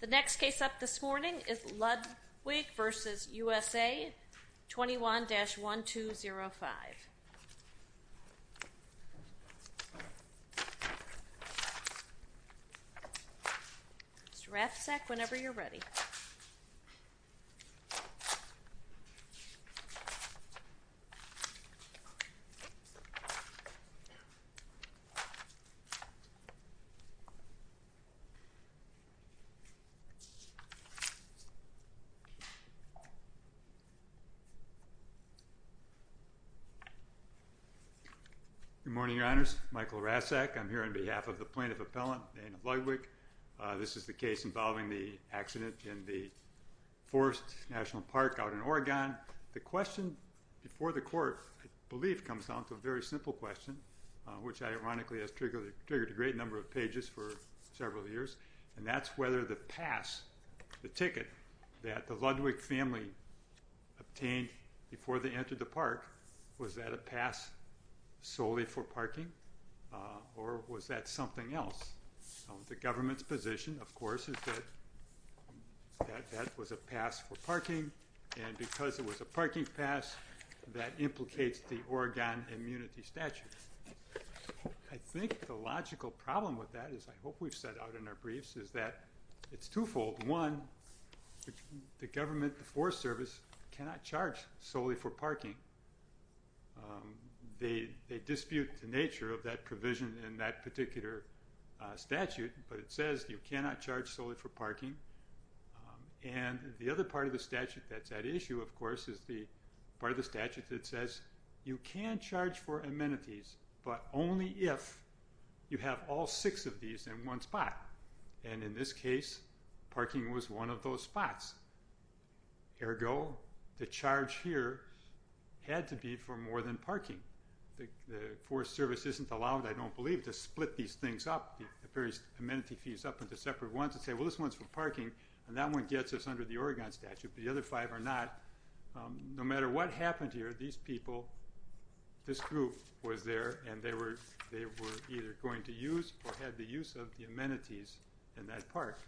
The next case up this morning is Ludwig v. USA, 21-1205. Good morning, Your Honors. Michael Rasek. I'm here on behalf of the plaintiff appellant, Dana Ludwig. This is the case involving the accident in the Forest National Park out in Oregon. The question before the court, I believe, comes down to a very simple question, which ironically has triggered a great number of pages for several years. And that's whether the pass, the ticket, that the Ludwig family obtained before they entered the park, was that a pass solely for parking? Or was that something else? The government's position, of course, is that that was a pass for parking. And because it was a parking pass, that implicates the Oregon immunity statute. I think the logical problem with that, as I hope we've set out in our briefs, is that it's twofold. One, the government, the Forest Service, cannot charge solely for parking. They dispute the nature of that provision in that particular statute. But it says you cannot charge solely for parking. And the other part of the statute that's at issue, of course, is the part of the statute that says, you can charge for amenities, but only if you have all six of these in one spot. And in this case, parking was one of those spots. Ergo, the charge here had to be for more than parking. The Forest Service isn't allowed, I don't believe, to split these things up, the various amenity fees, up into separate ones and say, well, this one's for parking, and that one gets us under the Oregon statute, but the other five are not. No matter what happened here, these people, this group was there, and they were either going to use or had the use of the amenities in that park.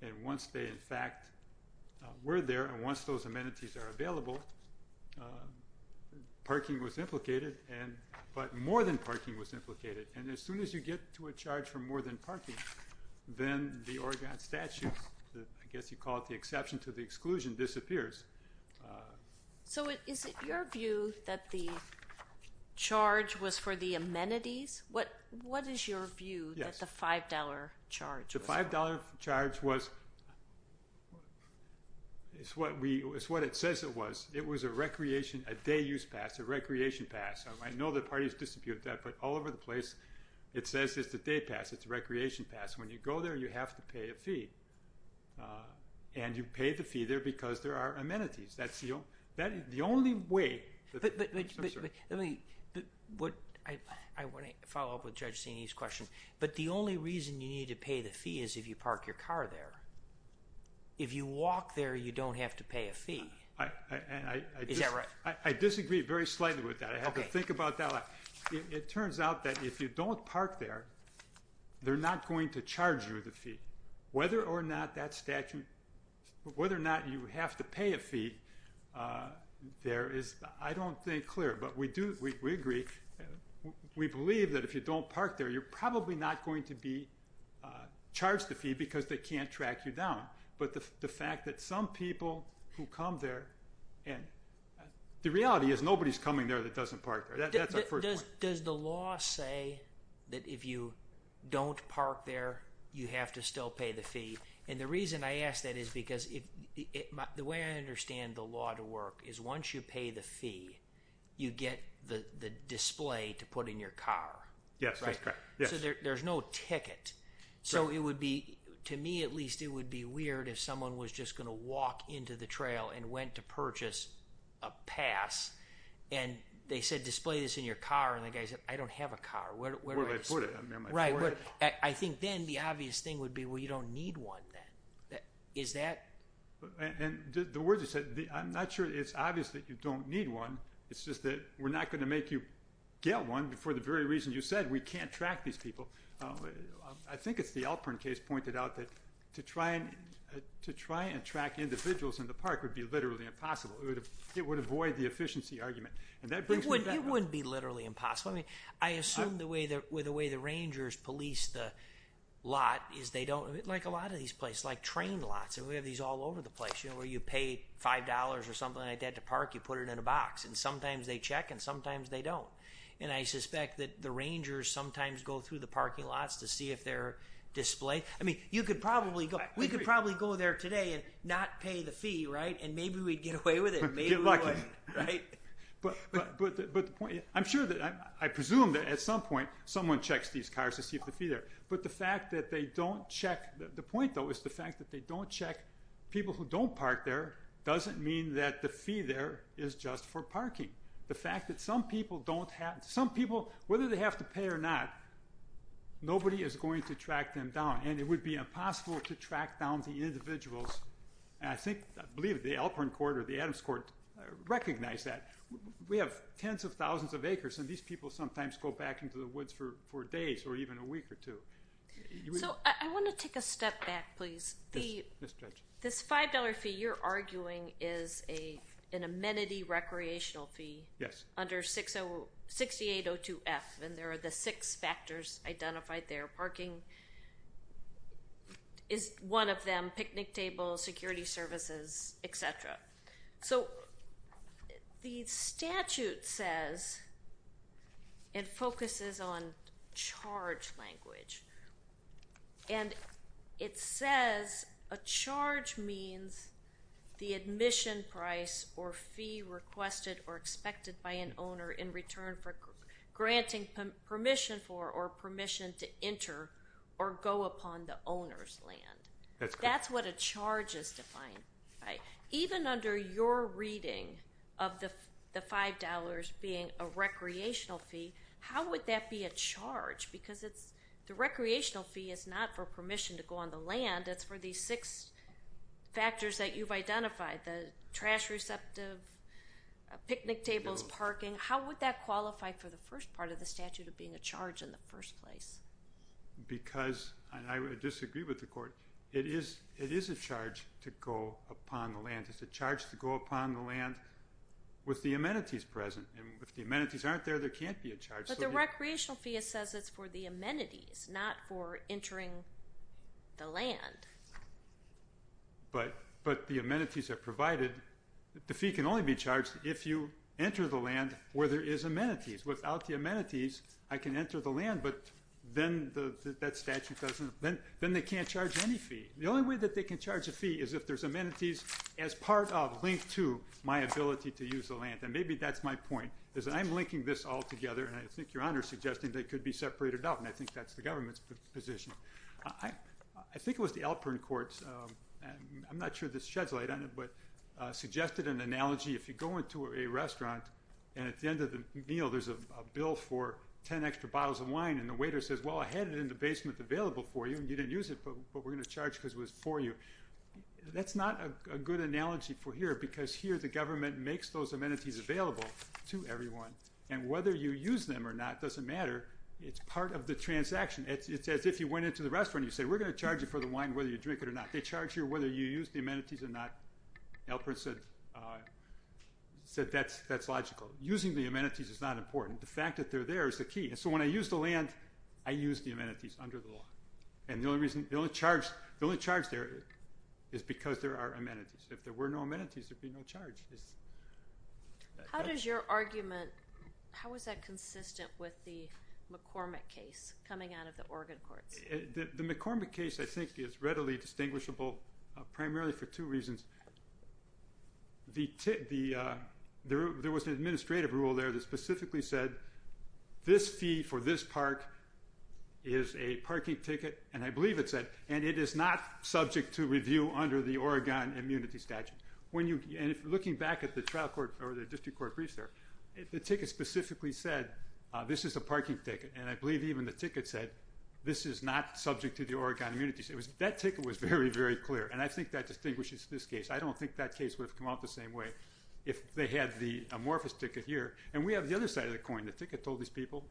And once they, in fact, were there, and once those amenities are available, parking was implicated, but more than parking was implicated, and as soon as you get to a charge for more than parking, then the Oregon statute, I guess you call it the exception to the exclusion, disappears. So is it your view that the charge was for the amenities? What is your view that the $5 charge was for? The $5 charge was, it's what it says it was, it was a recreation, a day use pass, a recreation pass. I know the parties dispute that, but all over the place, it says it's a day pass, it's a recreation pass. When you go there, you have to pay a fee. And you pay the fee there because there are amenities. That's the only way, I'm sorry. Let me, I wanna follow up with Judge Zinni's question. But the only reason you need to pay the fee is if you park your car there. If you walk there, you don't have to pay a fee. Is that right? I disagree very slightly with that. I have to think about that. It turns out that if you don't park there, they're not going to charge you the fee. Whether or not that statute, whether or not you have to pay a fee, there is, I don't think clear, but we do, we agree. We believe that if you don't park there, you're probably not going to be charged the fee because they can't track you down. But the fact that some people who come there, and the reality is nobody's coming there that doesn't park there, that's our first point. Does the law say that if you don't park there, you have to still pay the fee? And the reason I ask that is because the way I understand the law to work is once you pay the fee, you get the display to put in your car. Yes, that's correct, yes. So there's no ticket. So it would be, to me at least, it would be weird if someone was just going to walk into the trail and went to purchase a pass, and they said, display this in your car, and the guy said, I don't have a car. Where do I put it? Right, I think then the obvious thing would be, well, you don't need one then. Is that? And the words you said, I'm not sure it's obvious that you don't need one. It's just that we're not going to make you get one for the very reasons you said. We can't track these people. I think it's the Alpern case pointed out that to try and track individuals in the park would be literally impossible. It would avoid the efficiency argument. And that brings me back to- It wouldn't be literally impossible. I mean, I assume the way the Rangers police the lot is they don't, like a lot of these places, like train lots, and we have these all over the place, you know, where you pay $5 or something like that to park, you put it in a box. And sometimes they check, and sometimes they don't. And I suspect that the Rangers sometimes go through the parking lots to see if they're displayed. I mean, you could probably go, we could probably go there today and not pay the fee, right? And maybe we'd get away with it. Maybe we wouldn't, right? But the point, I'm sure that, I presume that at some point, someone checks these cars to see if the fee there. But the fact that they don't check, the point though is the fact that they don't check, people who don't park there, doesn't mean that the fee there is just for parking. The fact that some people don't have, some people, whether they have to pay or not, nobody is going to track them down. And it would be impossible to track down the individuals. And I think, I believe the Elkhorn Court or the Adams Court recognize that. We have tens of thousands of acres, and these people sometimes go back into the woods for days or even a week or two. So I want to take a step back, please. Yes, Judge. This $5 fee you're arguing is an amenity recreational fee. Yes. Under 6802F, and there are the six factors identified there. Parking is one of them, picnic tables, security services, et cetera. So the statute says, it focuses on charge language. And it says a charge means the admission price or fee requested or expected by an owner in return for granting permission for or permission to enter or go upon the owner's land. That's what a charge is defined by. Even under your reading of the $5 being a recreational fee, how would that be a charge? Because the recreational fee is not for permission to go on the land, it's for the six factors that you've identified, the trash receptive, picnic tables, parking. How would that qualify for the first part of the statute of being a charge in the first place? Because, and I would disagree with the court, it is a charge to go upon the land. It's a charge to go upon the land with the amenities present. And if the amenities aren't there, there can't be a charge. But the recreational fee says it's for the amenities, not for entering the land. But the amenities are provided. The fee can only be charged if you enter the land where there is amenities. Without the amenities, I can enter the land, but then that statute doesn't, then they can't charge any fee. The only way that they can charge a fee is if there's amenities as part of, linked to my ability to use the land. And maybe that's my point, is that I'm linking this all together. And I think Your Honor is suggesting that it could be separated out. And I think that's the government's position. I think it was the Alpern Court, and I'm not sure this sheds light on it, but suggested an analogy. If you go into a restaurant, and at the end of the meal, there's a bill for 10 extra bottles of wine, and the waiter says, well, I had it in the basement available for you, and you didn't use it, but we're gonna charge because it was for you. That's not a good analogy for here, because here the government makes those amenities available to everyone. And whether you use them or not doesn't matter. It's part of the transaction. It's as if you went into the restaurant, and you say, we're gonna charge you for the wine, whether you drink it or not. They charge you whether you use the amenities or not. Alpern said that's logical. Using the amenities is not important. The fact that they're there is the key. And so when I use the land, I use the amenities under the law. And the only reason, the only charge there is because there are amenities. If there were no amenities, there'd be no charge. How does your argument, how is that consistent with the McCormick case coming out of the Oregon courts? The McCormick case, I think is readily distinguishable, primarily for two reasons. There was an administrative rule there that specifically said, this fee for this park is a parking ticket, and I believe it said, and it is not subject to review under the Oregon immunity statute. And looking back at the trial court or the district court briefs there, the ticket specifically said, this is a parking ticket. And I believe even the ticket said, this is not subject to the Oregon immunity. That ticket was very, very clear. And I think that distinguishes this case. I don't think that case would have come out the same way if they had the amorphous ticket here. And we have the other side of the coin. The ticket told these people,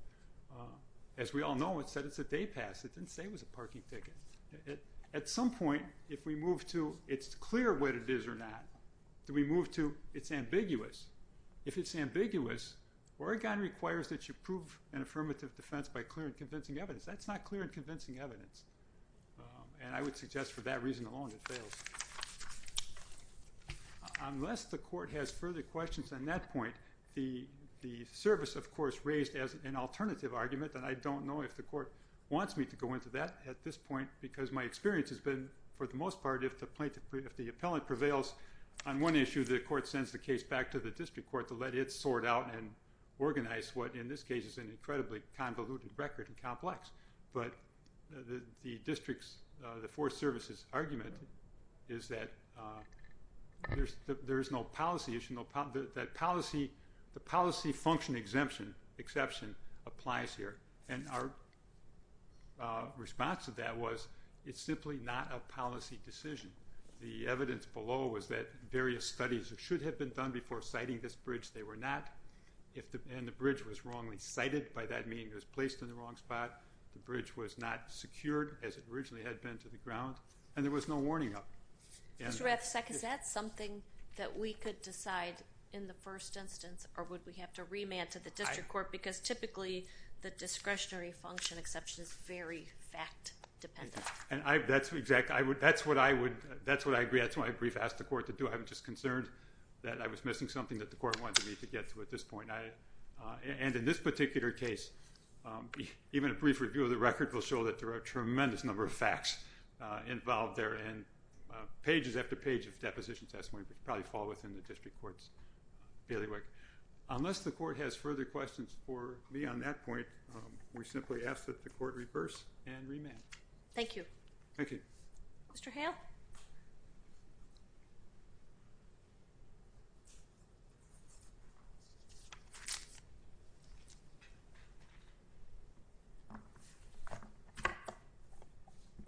as we all know, it said it's a day pass. It didn't say it was a parking ticket. At some point, if we move to, it's clear what it is or not. Do we move to, it's ambiguous. If it's ambiguous, Oregon requires that you prove an affirmative defense by clear and convincing evidence. That's not clear and convincing evidence. And I would suggest for that reason alone, it fails. Unless the court has further questions on that point, the service of course raised as an alternative argument. And I don't know if the court wants me to go into that at this point, because my experience has been, for the most part, if the appellant prevails on one issue, the court sends the case back to the district court to let it sort out and organize what, in this case, is an incredibly convoluted record and complex. But the district's, the four services argument is that there's no policy issue, that policy, the policy function exemption, exception applies here. And our response to that was, it's simply not a policy decision. The evidence below was that various studies that should have been done before citing this bridge, they were not. If the bridge was wrongly cited, by that meaning it was placed in the wrong spot, the bridge was not secured as it originally had been to the ground, and there was no warning up. And- Mr. Ravsek, is that something that we could decide in the first instance, or would we have to remand to the district court? Because typically, the discretionary function exception is just very fact-dependent. And I, that's exactly, that's what I would, that's what I agree, that's what I brief asked the court to do. I was just concerned that I was missing something that the court wanted me to get to at this point. And in this particular case, even a brief review of the record will show that there are a tremendous number of facts involved there, and pages after page of deposition testimony which probably fall within the district court's bailiwick. Unless the court has further questions for me on that point, we simply ask that the court reverse and remand. Thank you. Thank you. Mr. Hale.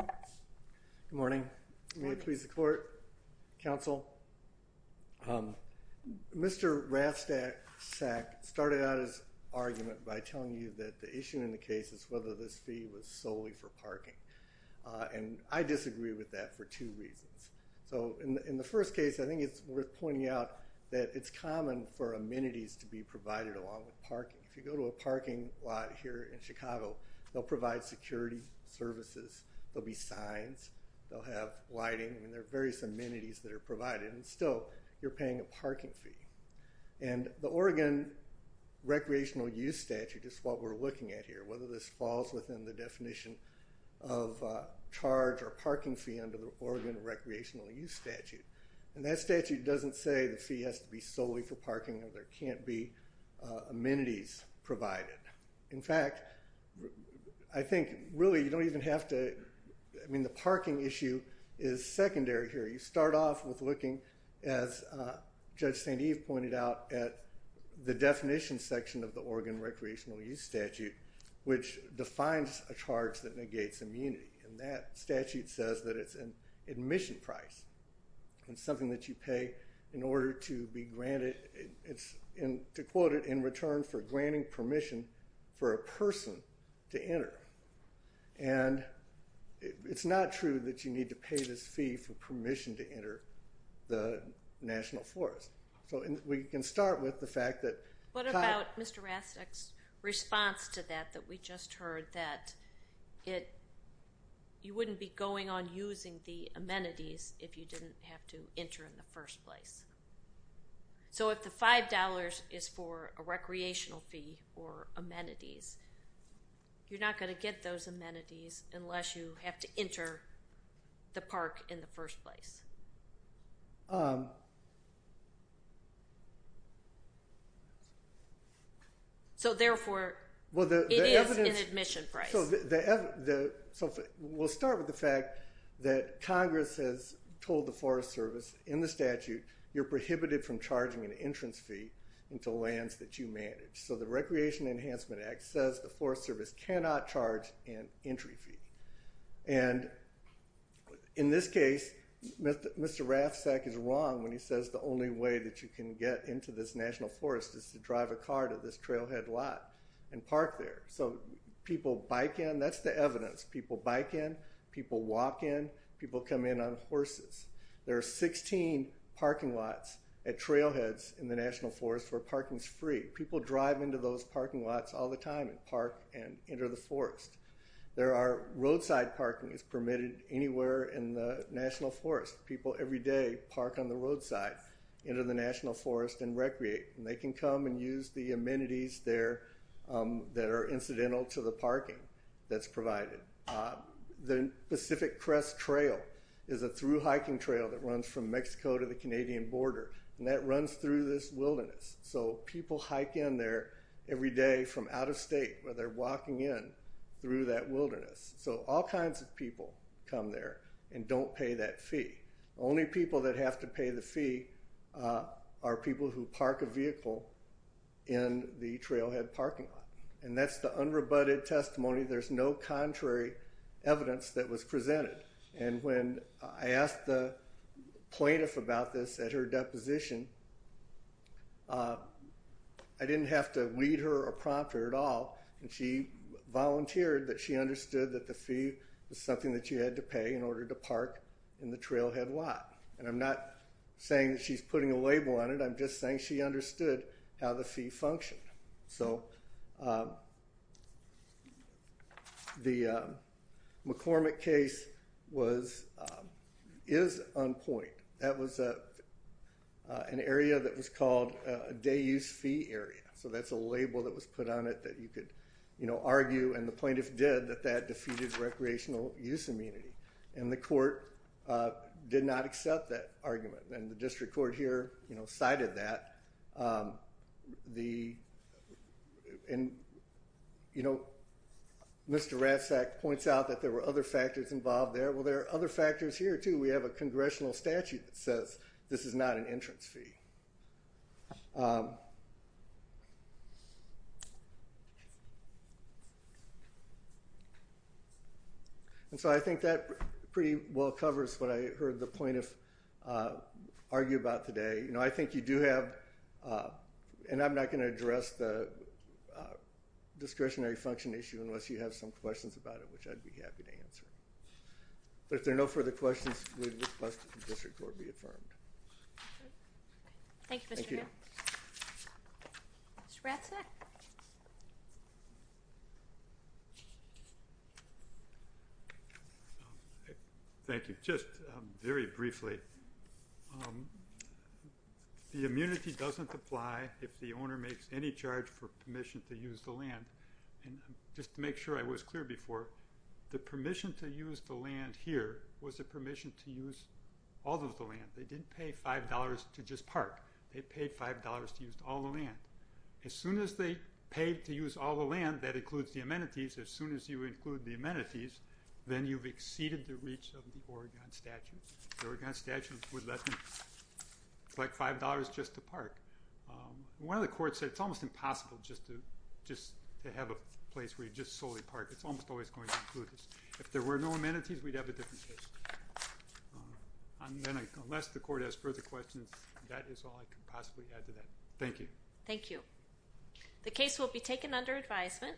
Good morning. May it please the court, counsel. Mr. Ravsek started out his argument by telling you that the issue in the case is whether this fee was solely for parking. And I disagree with that for two reasons. So in the first case, I think it's worth pointing out that it's common for amenities to be provided along with parking. If you go to a parking lot here in Chicago, they'll provide security services. There'll be signs. They'll have lighting. I mean, there are various amenities that are provided. And still, you're paying a parking fee. And the Oregon Recreational Use Statute is what we're looking at here, whether this falls within the definition of charge or parking fee under the Oregon Recreational Use Statute. And that statute doesn't say the fee has to be solely for parking or there can't be amenities provided. In fact, I think, really, you don't even have to, I mean, the parking issue is secondary here. You start off with looking, as Judge St. Eve pointed out, at the definition section of the Oregon Recreational Use Statute, which defines a charge that negates immunity. And that statute says that it's an admission price. It's something that you pay in order to be granted, to quote it, in return for granting permission for a person to enter. And it's not true that you need to pay this fee for permission to enter the National Forest. So we can start with the fact that. What about Mr. Rastek's response to that, that we just heard, that you wouldn't be going on using the amenities if you didn't have to enter in the first place? So if the $5 is for a recreational fee or amenities, you're not gonna get those amenities unless you have to enter the park in the first place. So therefore, it is an admission price. We'll start with the fact that Congress has told the Forest Service, in the statute, you're prohibited from charging an entrance fee into lands that you manage. So the Recreation Enhancement Act says the Forest Service cannot charge an entry fee. And in this case, Mr. Rastek is wrong when he says the only way that you can get into this National Forest is to drive a car to this trailhead lot and park there. So people bike in, that's the evidence. People bike in, people walk in, people come in on horses. There are 16 parking lots at trailheads in the National Forest where parking's free. People drive into those parking lots all the time and enter the forest. There are roadside parking is permitted anywhere in the National Forest. People every day park on the roadside, enter the National Forest and recreate. And they can come and use the amenities there that are incidental to the parking that's provided. The Pacific Crest Trail is a through hiking trail that runs from Mexico to the Canadian border. And that runs through this wilderness. So people hike in there every day from out of state where they're walking in through that wilderness. So all kinds of people come there and don't pay that fee. Only people that have to pay the fee are people who park a vehicle in the trailhead parking lot. And that's the unrebutted testimony. There's no contrary evidence that was presented. And when I asked the plaintiff about this at her deposition, I didn't have to lead her or prompt her at all. And she volunteered that she understood that the fee was something that you had to pay in order to park in the trailhead lot. And I'm not saying that she's putting a label on it. I'm just saying she understood how the fee functioned. So the McCormick case is on point. That was an area that was called a day-use fee area. So that's a label that was put on it that you could argue, and the plaintiff did, that that defeated recreational use immunity. And the court did not accept that argument. And the district court here cited that. Mr. Ratzak points out that there were other factors involved there. Well, there are other factors here too. We have a congressional statute that says this is not an entrance fee. And so I think that pretty well covers what I heard the plaintiff argue about today. I think you do have, and I'm not going to address the discretionary function issue unless you have some questions about it, which I'd be happy to answer. But if there are no further questions, we'd request that the district court be affirmed. Thank you, Mr. Gabb. Thank you. Mr. Ratzak. Thank you. Just very briefly. The immunity doesn't apply if the owner makes any charge for permission to use the land. And just to make sure I was clear before, the permission to use the land here was a permission to use all of the land. They didn't pay $5 to just park. They paid $5 to use all the land. As soon as they paid to use all the land, that includes the amenities, as soon as you include the amenities, then you've exceeded the reach of the Oregon statute. The Oregon statute would let them collect $5 just to park. One of the courts said it's almost impossible just to have a place where you just solely park. It's almost always going to include this. If there were no amenities, we'd have a different case. Unless the court has further questions, that is all I can possibly add to that. Thank you. Thank you. The case will be taken under advisement.